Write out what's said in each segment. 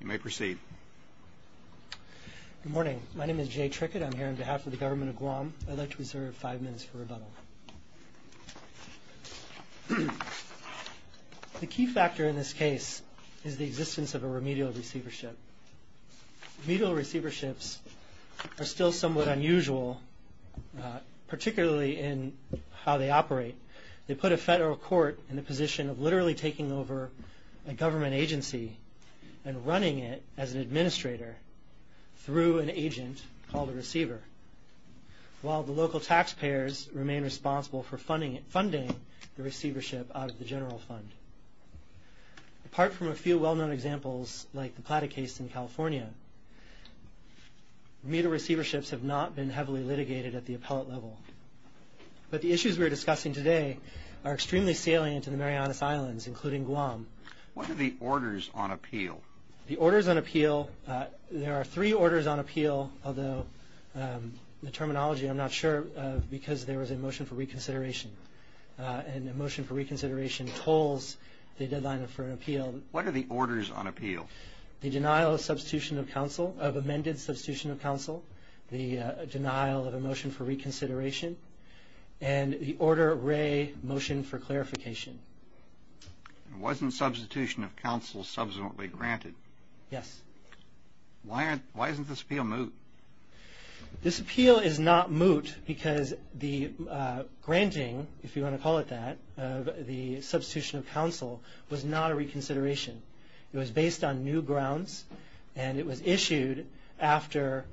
You may proceed. Good morning. My name is Jay Trickett. I'm here on behalf of the Government of Guam. I'd like to reserve five minutes for rebuttal. The key factor in this case is the existence of a remedial receivership. Remedial receiverships are still somewhat unusual, particularly in how they operate. They put a federal court in the position of literally taking over a government agency and running it as an administrator through an agent called a receiver, while the local taxpayers remain responsible for funding the receivership out of the general fund. Apart from a few well-known examples, like the Plata case in California, remedial receiverships have not been heavily litigated at the appellate level. But the issues we're discussing today are extremely salient in the Marianas Islands, including Guam. What are the orders on appeal? The orders on appeal, there are three orders on appeal, although the terminology I'm not sure of because there was a motion for reconsideration, and a motion for reconsideration tolls the deadline for an appeal. What are the orders on appeal? The denial of amended substitution of counsel, the denial of a motion for reconsideration, and the Order of Ray motion for clarification. Wasn't substitution of counsel subsequently granted? Yes. Why isn't this appeal moot? This appeal is not moot because the granting, if you want to call it that, of the substitution of counsel was not a reconsideration. It was based on new grounds, and it was issued after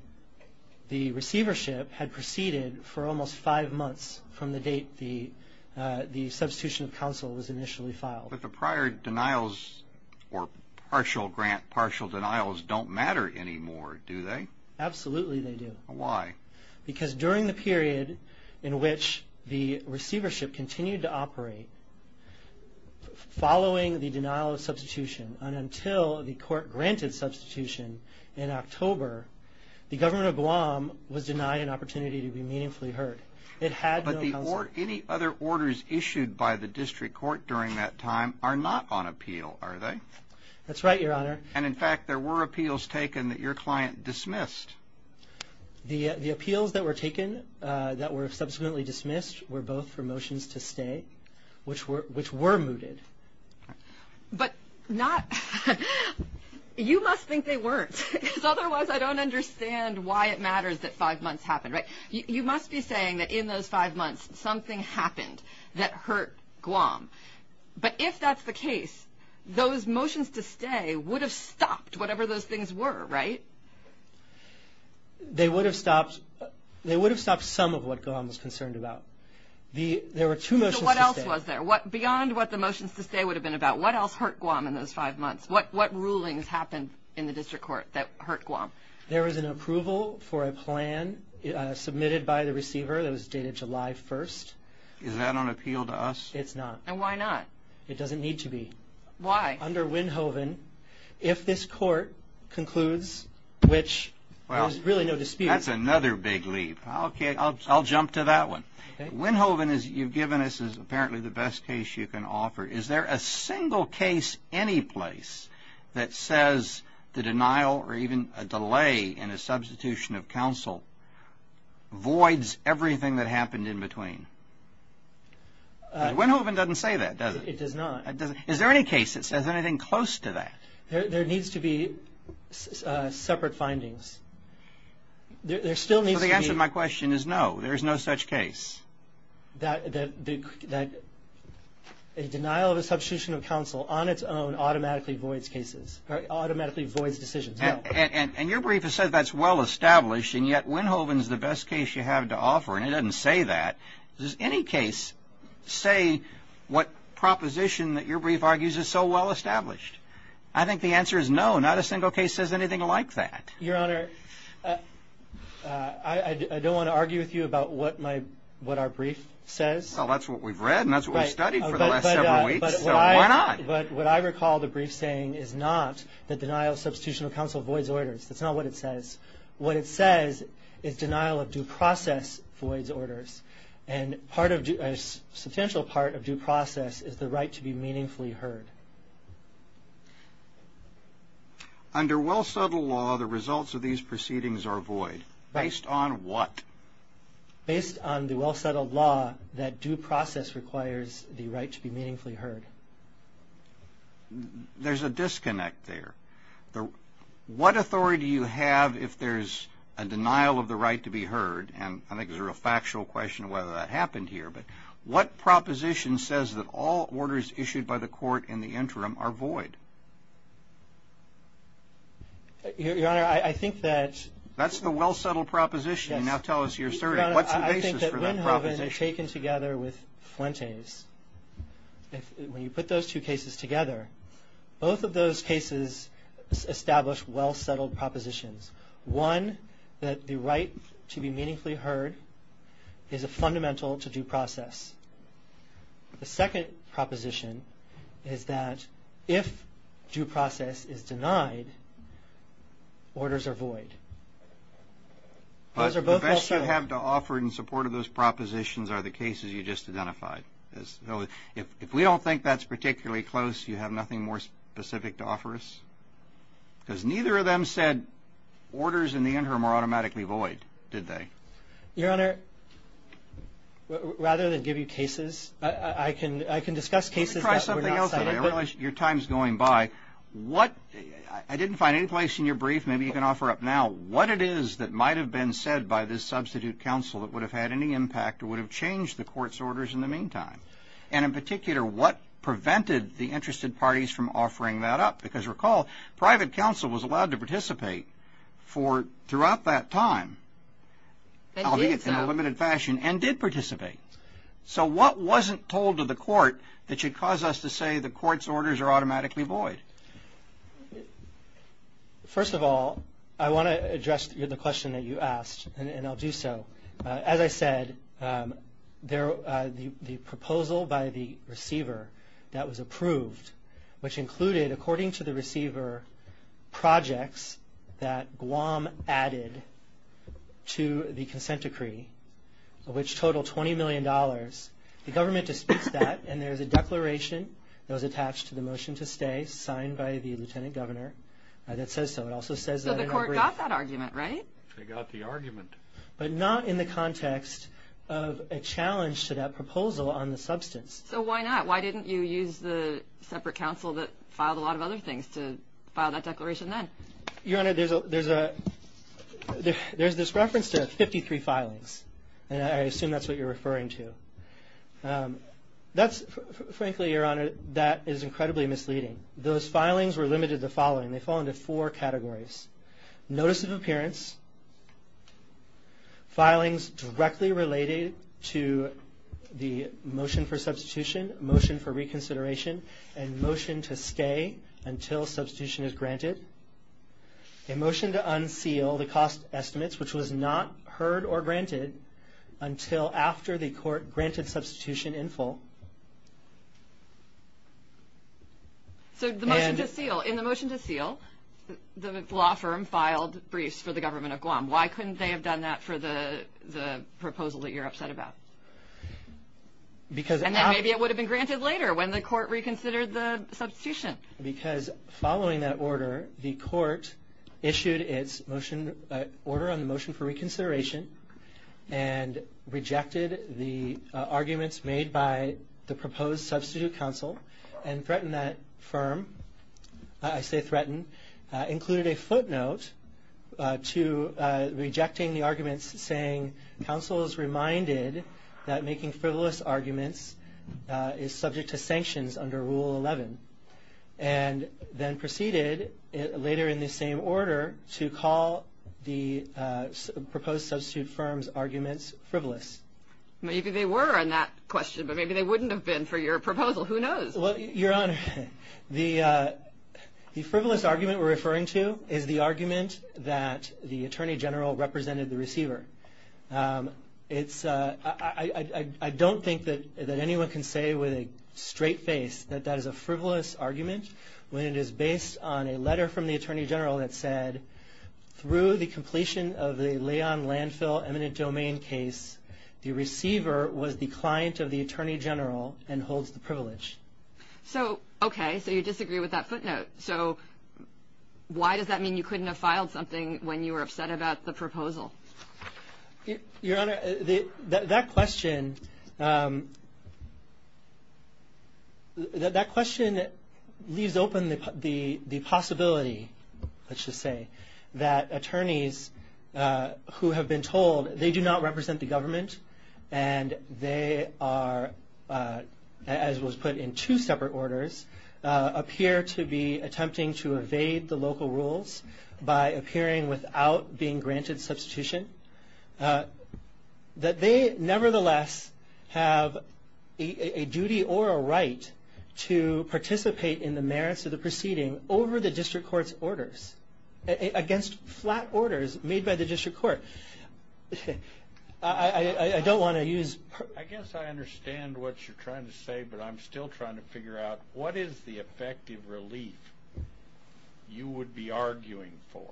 the receivership had proceeded for almost five months from the date the substitution of counsel was initially filed. But the prior denials or partial grant, partial denials don't matter anymore, do they? Absolutely they do. Why? Because during the period in which the receivership continued to operate, following the denial of substitution, and until the court granted substitution in October, the government of Guam was denied an opportunity to be meaningfully heard. It had no counsel. But any other orders issued by the district court during that time are not on appeal, are they? That's right, Your Honor. And, in fact, there were appeals taken that your client dismissed. The appeals that were taken that were subsequently dismissed were both for motions to stay, which were mooted. But you must think they weren't, because otherwise I don't understand why it matters that five months happened, right? You must be saying that in those five months something happened that hurt Guam. But if that's the case, those motions to stay would have stopped whatever those things were, right? They would have stopped some of what Guam was concerned about. There were two motions to stay. So what else was there? Beyond what the motions to stay would have been about, what else hurt Guam in those five months? What rulings happened in the district court that hurt Guam? There was an approval for a plan submitted by the receiver that was dated July 1st. Is that on appeal to us? It's not. And why not? It doesn't need to be. Why? Under Winhoven, if this court concludes, which there's really no dispute. That's another big leap. Okay. I'll jump to that one. Okay. Winhoven, as you've given us, is apparently the best case you can offer. Is there a single case anyplace that says the denial or even a delay in a substitution of counsel voids everything that happened in between? Winhoven doesn't say that, does it? It does not. Is there any case that says anything close to that? There needs to be separate findings. There still needs to be. So the answer to my question is no. There's no such case. That a denial of a substitution of counsel on its own automatically voids cases, automatically voids decisions, no. And your brief has said that's well established, and yet Winhoven is the best case you have to offer, and it doesn't say that. Does any case say what proposition that your brief argues is so well established? I think the answer is no. Not a single case says anything like that. Your Honor, I don't want to argue with you about what our brief says. Well, that's what we've read, and that's what we've studied for the last several weeks, so why not? But what I recall the brief saying is not that denial of substitution of counsel voids orders. That's not what it says. What it says is denial of due process voids orders, and a substantial part of due process is the right to be meaningfully heard. Under well-settled law, the results of these proceedings are void. Right. Based on what? Based on the well-settled law that due process requires the right to be meaningfully heard. There's a disconnect there. What authority do you have if there's a denial of the right to be heard, and I think there's a factual question of whether that happened here, but what proposition says that all orders issued by the court in the interim are void? Your Honor, I think that's. That's the well-settled proposition. Yes. Now tell us your story. What's the basis for that proposition? Your Honor, I think that when taken together with Fuentes, when you put those two cases together, both of those cases establish well-settled propositions. One, that the right to be meaningfully heard is a fundamental to due process. The second proposition is that if due process is denied, orders are void. Those are both also. The best you have to offer in support of those propositions are the cases you just identified. If we don't think that's particularly close, you have nothing more specific to offer us? Because neither of them said orders in the interim are automatically void, did they? Your Honor, rather than give you cases, I can discuss cases that were not cited. Try something else. I realize your time is going by. I didn't find any place in your brief, maybe you can offer up now, what it is that might have been said by this substitute counsel that would have had any impact or would have changed the court's orders in the meantime? And in particular, what prevented the interested parties from offering that up? Because recall, private counsel was allowed to participate throughout that time, albeit in a limited fashion, and did participate. So what wasn't told to the court that should cause us to say the court's orders are automatically void? First of all, I want to address the question that you asked, and I'll do so. As I said, the proposal by the receiver that was approved, which included, according to the receiver, projects that Guam added to the consent decree, which totaled $20 million, the government disputes that, and there's a declaration that was attached to the motion to stay, signed by the lieutenant governor, that says so. It also says that in the brief. So the court got that argument, right? They got the argument. But not in the context of a challenge to that proposal on the substance. So why not? Why didn't you use the separate counsel that filed a lot of other things to file that declaration then? Your Honor, there's this reference to 53 filings, and I assume that's what you're referring to. Frankly, Your Honor, that is incredibly misleading. Those filings were limited to the following. They fall into four categories. Notice of appearance, filings directly related to the motion for substitution, motion for reconsideration, and motion to stay until substitution is granted, a motion to unseal the cost estimates, which was not heard or granted until after the court granted substitution in full. So in the motion to seal, the law firm filed briefs for the government of Guam. Why couldn't they have done that for the proposal that you're upset about? And then maybe it would have been granted later when the court reconsidered the substitution. Because following that order, the court issued its order on the motion for reconsideration and rejected the arguments made by the proposed substitute counsel and threatened that firm, I say threatened, included a footnote to rejecting the arguments saying, counsel is reminded that making frivolous arguments is subject to sanctions under Rule 11, and then proceeded later in the same order to call the proposed substitute firm's arguments frivolous. Maybe they were on that question, but maybe they wouldn't have been for your proposal. Who knows? Well, Your Honor, the frivolous argument we're referring to is the argument that the Attorney General represented the receiver. I don't think that anyone can say with a straight face that that is a frivolous argument when it is based on a letter from the Attorney General that said, through the completion of the Leon landfill eminent domain case, the receiver was the client of the Attorney General and holds the privilege. So, okay, so you disagree with that footnote. So why does that mean you couldn't have filed something when you were upset about the proposal? Your Honor, that question leaves open the possibility, let's just say, that attorneys who have been told they do not represent the government and they are, as was put in two separate orders, appear to be attempting to evade the local rules by appearing without being granted substitution, that they nevertheless have a duty or a right to participate in the merits of the proceeding over the district court's orders, against flat orders made by the district court. I don't want to use... I guess I understand what you're trying to say, but I'm still trying to figure out, what is the effective relief you would be arguing for?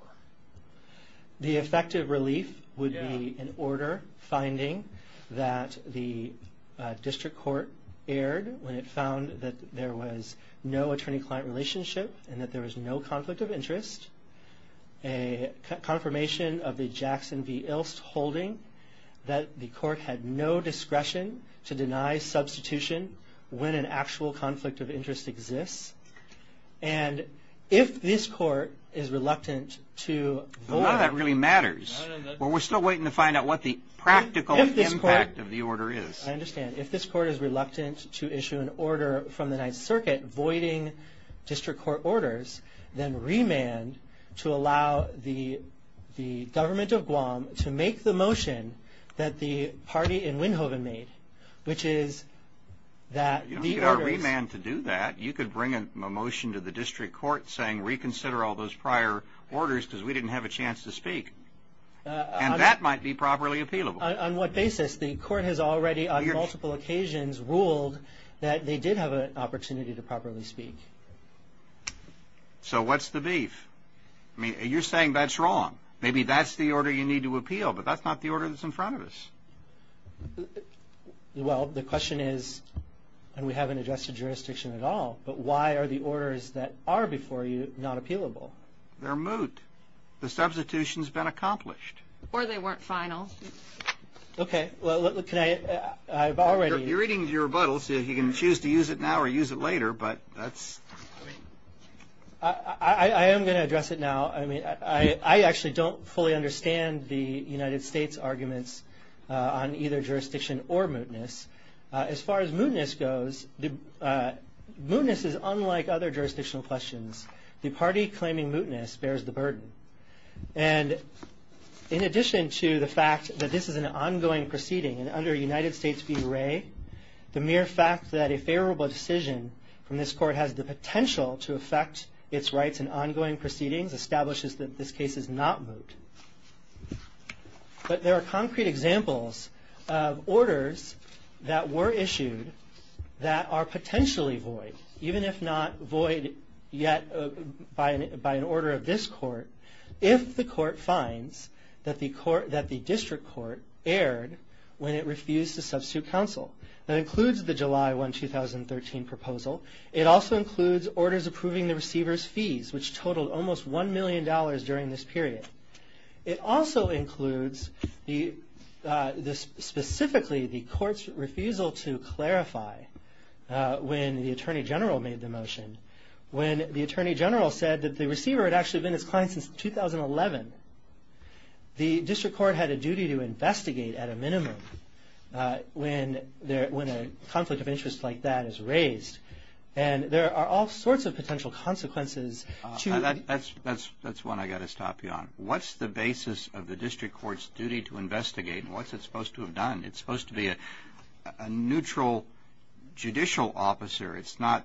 The effective relief would be an order finding that the district court erred when it found that there was no attorney-client relationship and that there was no conflict of interest, a confirmation of the Jackson v. Ilst holding that the court had no discretion to deny substitution when an actual conflict of interest exists. And if this court is reluctant to... No, that really matters. We're still waiting to find out what the practical impact of the order is. I understand. If this court is reluctant to issue an order from the Ninth Circuit voiding district court orders, then remand to allow the government of Guam to make the motion that the party in Winhoven made, which is that the orders... You don't need a remand to do that. You could bring a motion to the district court saying reconsider all those prior orders because we didn't have a chance to speak, and that might be properly appealable. On what basis? The court has already on multiple occasions ruled that they did have an opportunity to properly speak. So what's the beef? I mean, you're saying that's wrong. Maybe that's the order you need to appeal, but that's not the order that's in front of us. Well, the question is, and we haven't addressed the jurisdiction at all, but why are the orders that are before you not appealable? They're moot. The substitution's been accomplished. Or they weren't final. Okay. Well, can I? I've already... You're reading your rebuttal, so you can choose to use it now or use it later, but that's... I am going to address it now. I mean, I actually don't fully understand the United States arguments on either jurisdiction or mootness. As far as mootness goes, mootness is unlike other jurisdictional questions. The party claiming mootness bears the burden. And in addition to the fact that this is an ongoing proceeding, and under United States v. Wray, the mere fact that a favorable decision from this court has the potential to affect its rights in ongoing proceedings establishes that this case is not moot. But there are concrete examples of orders that were issued that are potentially void, even if not void yet by an order of this court, if the court finds that the district court erred when it refused to substitute counsel. That includes the July 1, 2013 proposal. It also includes orders approving the receiver's fees, which totaled almost $1 million during this period. It also includes specifically the court's refusal to clarify when the attorney general made the motion. When the attorney general said that the receiver had actually been his client since 2011, the district court had a duty to investigate at a minimum when a conflict of interest like that is raised. And there are all sorts of potential consequences to... That's one I've got to stop you on. What's the basis of the district court's duty to investigate, and what's it supposed to have done? It's supposed to be a neutral judicial officer. It's not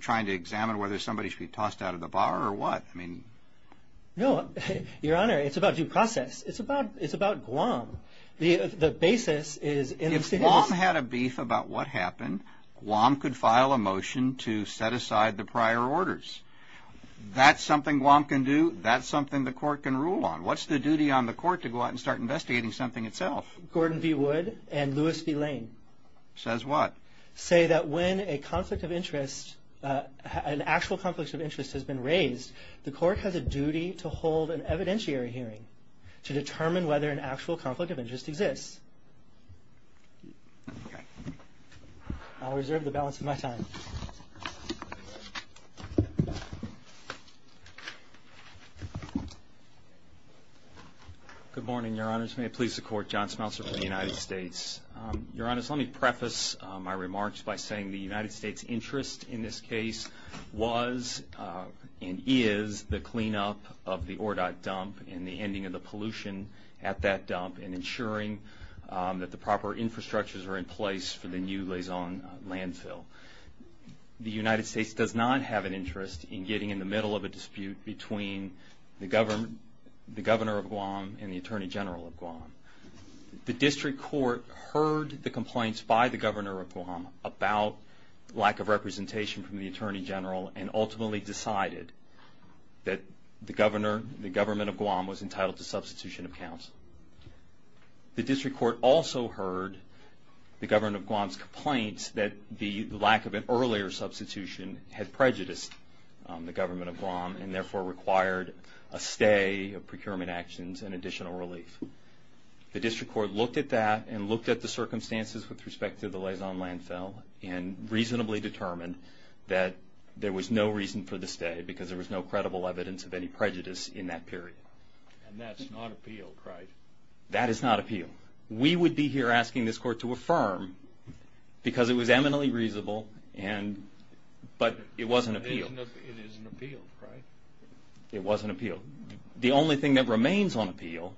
trying to examine whether somebody should be tossed out of the bar or what. No, Your Honor, it's about due process. It's about Guam. The basis is... If Guam had a beef about what happened, Guam could file a motion to set aside the prior orders. That's something Guam can do. That's something the court can rule on. What's the duty on the court to go out and start investigating something itself? Gordon V. Wood and Louis V. Lane... Says what? ...say that when a conflict of interest, an actual conflict of interest has been raised, the court has a duty to hold an evidentiary hearing to determine whether an actual conflict of interest exists. Okay. I'll reserve the balance of my time. Good morning, Your Honors. May it please the Court. John Smeltzer from the United States. Your Honors, let me preface my remarks by saying the United States' interest in this case was and is the cleanup of the Ordot dump and the ending of the pollution at that dump and ensuring that the proper infrastructures are in place for the new Lausanne landfill. The United States does not have an interest in getting in the middle of a dispute between the Governor of Guam and the Attorney General of Guam. The District Court heard the complaints by the Governor of Guam about lack of representation from the Attorney General and ultimately decided that the Governor, the Government of Guam was entitled to substitution of counsel. The District Court also heard the Government of Guam's complaints that the lack of an earlier substitution had prejudiced the Government of Guam and therefore required a stay of procurement actions and additional relief. The District Court looked at that and looked at the circumstances with respect to the Lausanne landfill and reasonably determined that there was no reason for the stay because there was no credible evidence of any prejudice in that period. And that's not appealed, right? That is not appealed. We would be here asking this Court to affirm because it was eminently reasonable, but it wasn't appealed. It isn't appealed, right? It wasn't appealed. The only thing that remains on appeal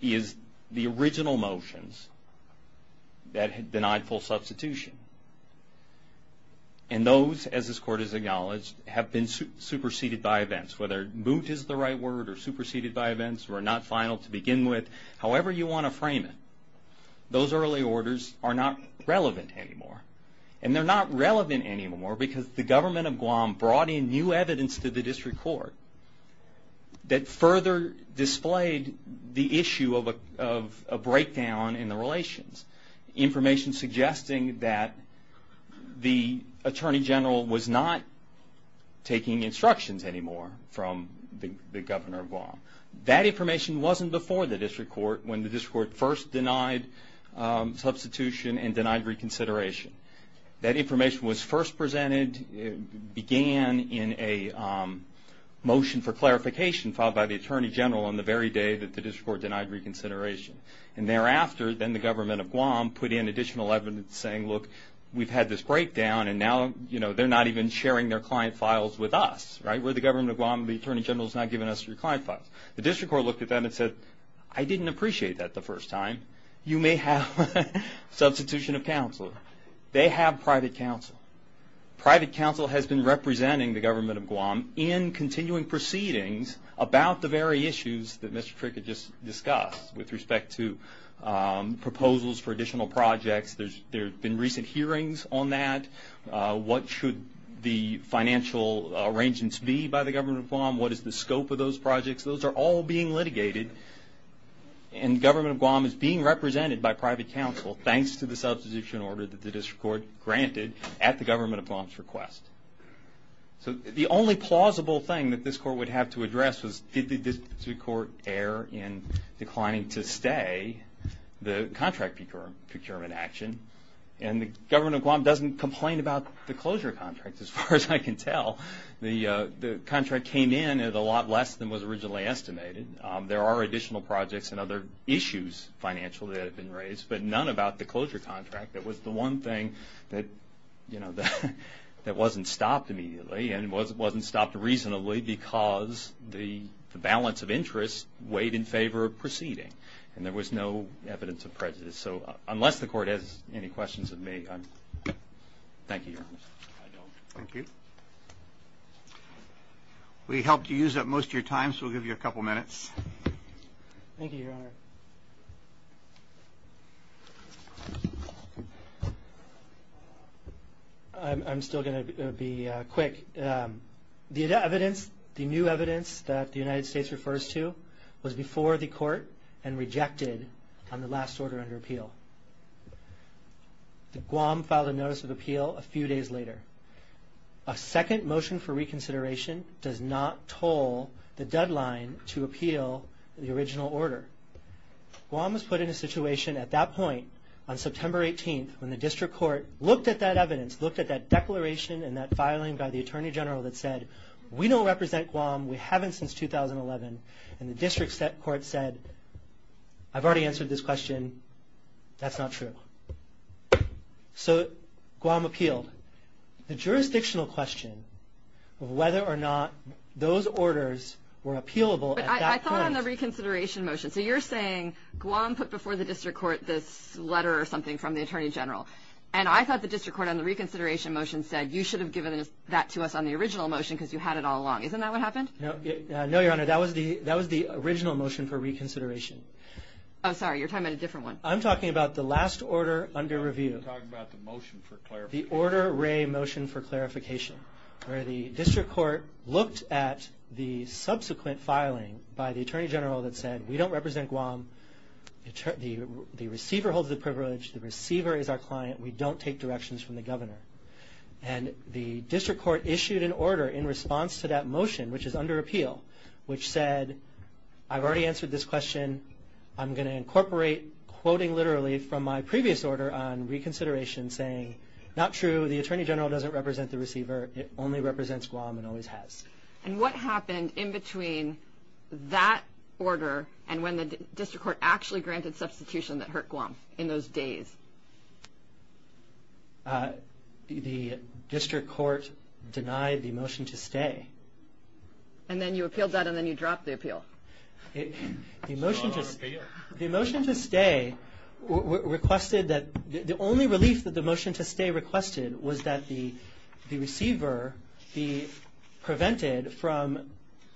is the original motions that denied full substitution. And those, as this Court has acknowledged, have been superseded by events. Whether moot is the right word or superseded by events or not final to begin with, however you want to frame it, those early orders are not relevant anymore. And they're not relevant anymore because the Government of Guam brought in new evidence to the District Court that further displayed the issue of a breakdown in the relations. Information suggesting that the Attorney General was not taking instructions anymore from the Governor of Guam. That information wasn't before the District Court when the District Court first denied substitution and denied reconsideration. That information was first presented, began in a motion for clarification filed by the Attorney General on the very day that the District Court denied reconsideration. And thereafter, then the Government of Guam put in additional evidence saying, look, we've had this breakdown and now they're not even sharing their client files with us, right? We're the Government of Guam, the Attorney General's not giving us your client files. The District Court looked at that and said, I didn't appreciate that the first time. You may have substitution of counsel. They have private counsel. Private counsel has been representing the Government of Guam in continuing proceedings about the very issues that Mr. Tricket just discussed with respect to proposals for additional projects. There have been recent hearings on that. What should the financial arrangements be by the Government of Guam? What is the scope of those projects? Those are all being litigated. And the Government of Guam is being represented by private counsel, thanks to the substitution order that the District Court granted at the Government of Guam's request. So the only plausible thing that this Court would have to address was, did the District Court err in declining to stay the contract procurement action? And the Government of Guam doesn't complain about the closure contract, as far as I can tell. The contract came in at a lot less than was originally estimated. There are additional projects and other issues financially that have been raised, but none about the closure contract. That was the one thing that, you know, that wasn't stopped immediately and wasn't stopped reasonably because the balance of interest weighed in favor of proceeding. And there was no evidence of prejudice. So unless the Court has any questions of me, thank you, Your Honor. Thank you. We helped you use up most of your time, so we'll give you a couple minutes. Thank you, Your Honor. I'm still going to be quick. The evidence, the new evidence that the United States refers to, was before the Court and rejected on the last order under appeal. The Guam filed a notice of appeal a few days later. A second motion for reconsideration does not toll the deadline to appeal the original order. Guam was put in a situation at that point, on September 18th, when the District Court looked at that evidence, looked at that declaration and that filing by the Attorney General that said, We don't represent Guam. We haven't since 2011. And the District Court said, I've already answered this question. That's not true. So Guam appealed. The jurisdictional question of whether or not those orders were appealable at that point. But I thought on the reconsideration motion. So you're saying Guam put before the District Court this letter or something from the Attorney General. And I thought the District Court on the reconsideration motion said, You should have given that to us on the original motion because you had it all along. Isn't that what happened? No, Your Honor. That was the original motion for reconsideration. Oh, sorry. You're talking about a different one. I'm talking about the last order under review. You're talking about the motion for clarification. The Order Ray motion for clarification, where the District Court looked at the subsequent filing by the Attorney General that said, We don't represent Guam. The receiver holds the privilege. The receiver is our client. We don't take directions from the Governor. And the District Court issued an order in response to that motion, which is under appeal, which said, I've already answered this question. I'm going to incorporate quoting literally from my previous order on reconsideration saying, Not true. The Attorney General doesn't represent the receiver. It only represents Guam and always has. And what happened in between that order and when the District Court actually granted substitution that hurt Guam in those days? The District Court denied the motion to stay. And then you appealed that and then you dropped the appeal. The motion to stay requested that the only relief that the motion to stay requested was that the receiver be prevented from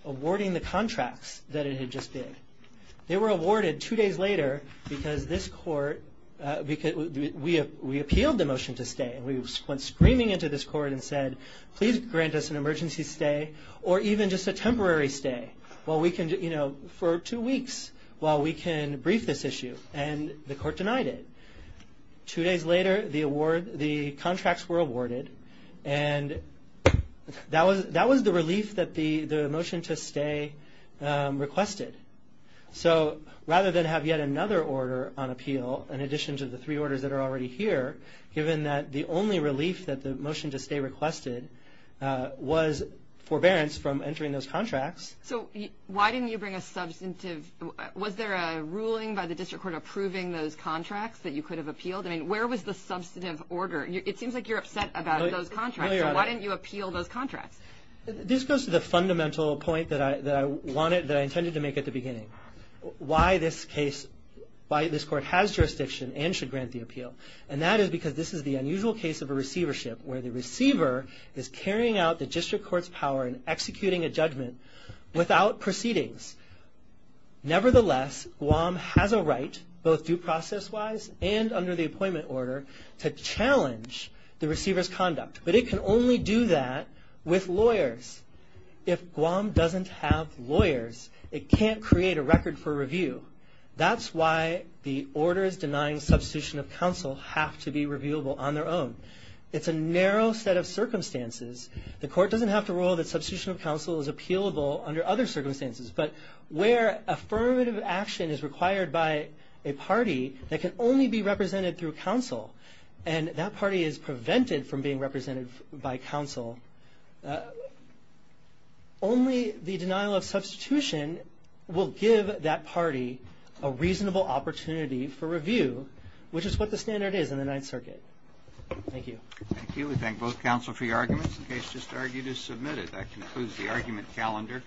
awarding the contracts that it had just bid. They were awarded two days later because we appealed the motion to stay and we went screaming into this court and said, Please grant us an emergency stay or even just a temporary stay for two weeks while we can brief this issue. And the court denied it. Two days later, the contracts were awarded. And that was the relief that the motion to stay requested. So rather than have yet another order on appeal, in addition to the three orders that are already here, given that the only relief that the motion to stay requested was forbearance from entering those contracts. So why didn't you bring a substantive? Was there a ruling by the District Court approving those contracts that you could have appealed? I mean, where was the substantive order? It seems like you're upset about those contracts. So why didn't you appeal those contracts? This goes to the fundamental point that I intended to make at the beginning. Why this case, why this court has jurisdiction and should grant the appeal. And that is because this is the unusual case of a receivership where the receiver is carrying out the District Court's power and executing a judgment without proceedings. Nevertheless, Guam has a right, both due process-wise and under the appointment order, to challenge the receiver's conduct. But it can only do that with lawyers. If Guam doesn't have lawyers, it can't create a record for review. That's why the orders denying substitution of counsel have to be reviewable on their own. It's a narrow set of circumstances. The court doesn't have to rule that substitution of counsel is appealable under other circumstances. But where affirmative action is required by a party that can only be represented through counsel and that party is prevented from being represented by counsel, only the denial of substitution will give that party a reasonable opportunity for review, which is what the standard is in the Ninth Circuit. Thank you. Thank you. We thank both counsel for your arguments. The case just argued is submitted. That concludes the argument calendar.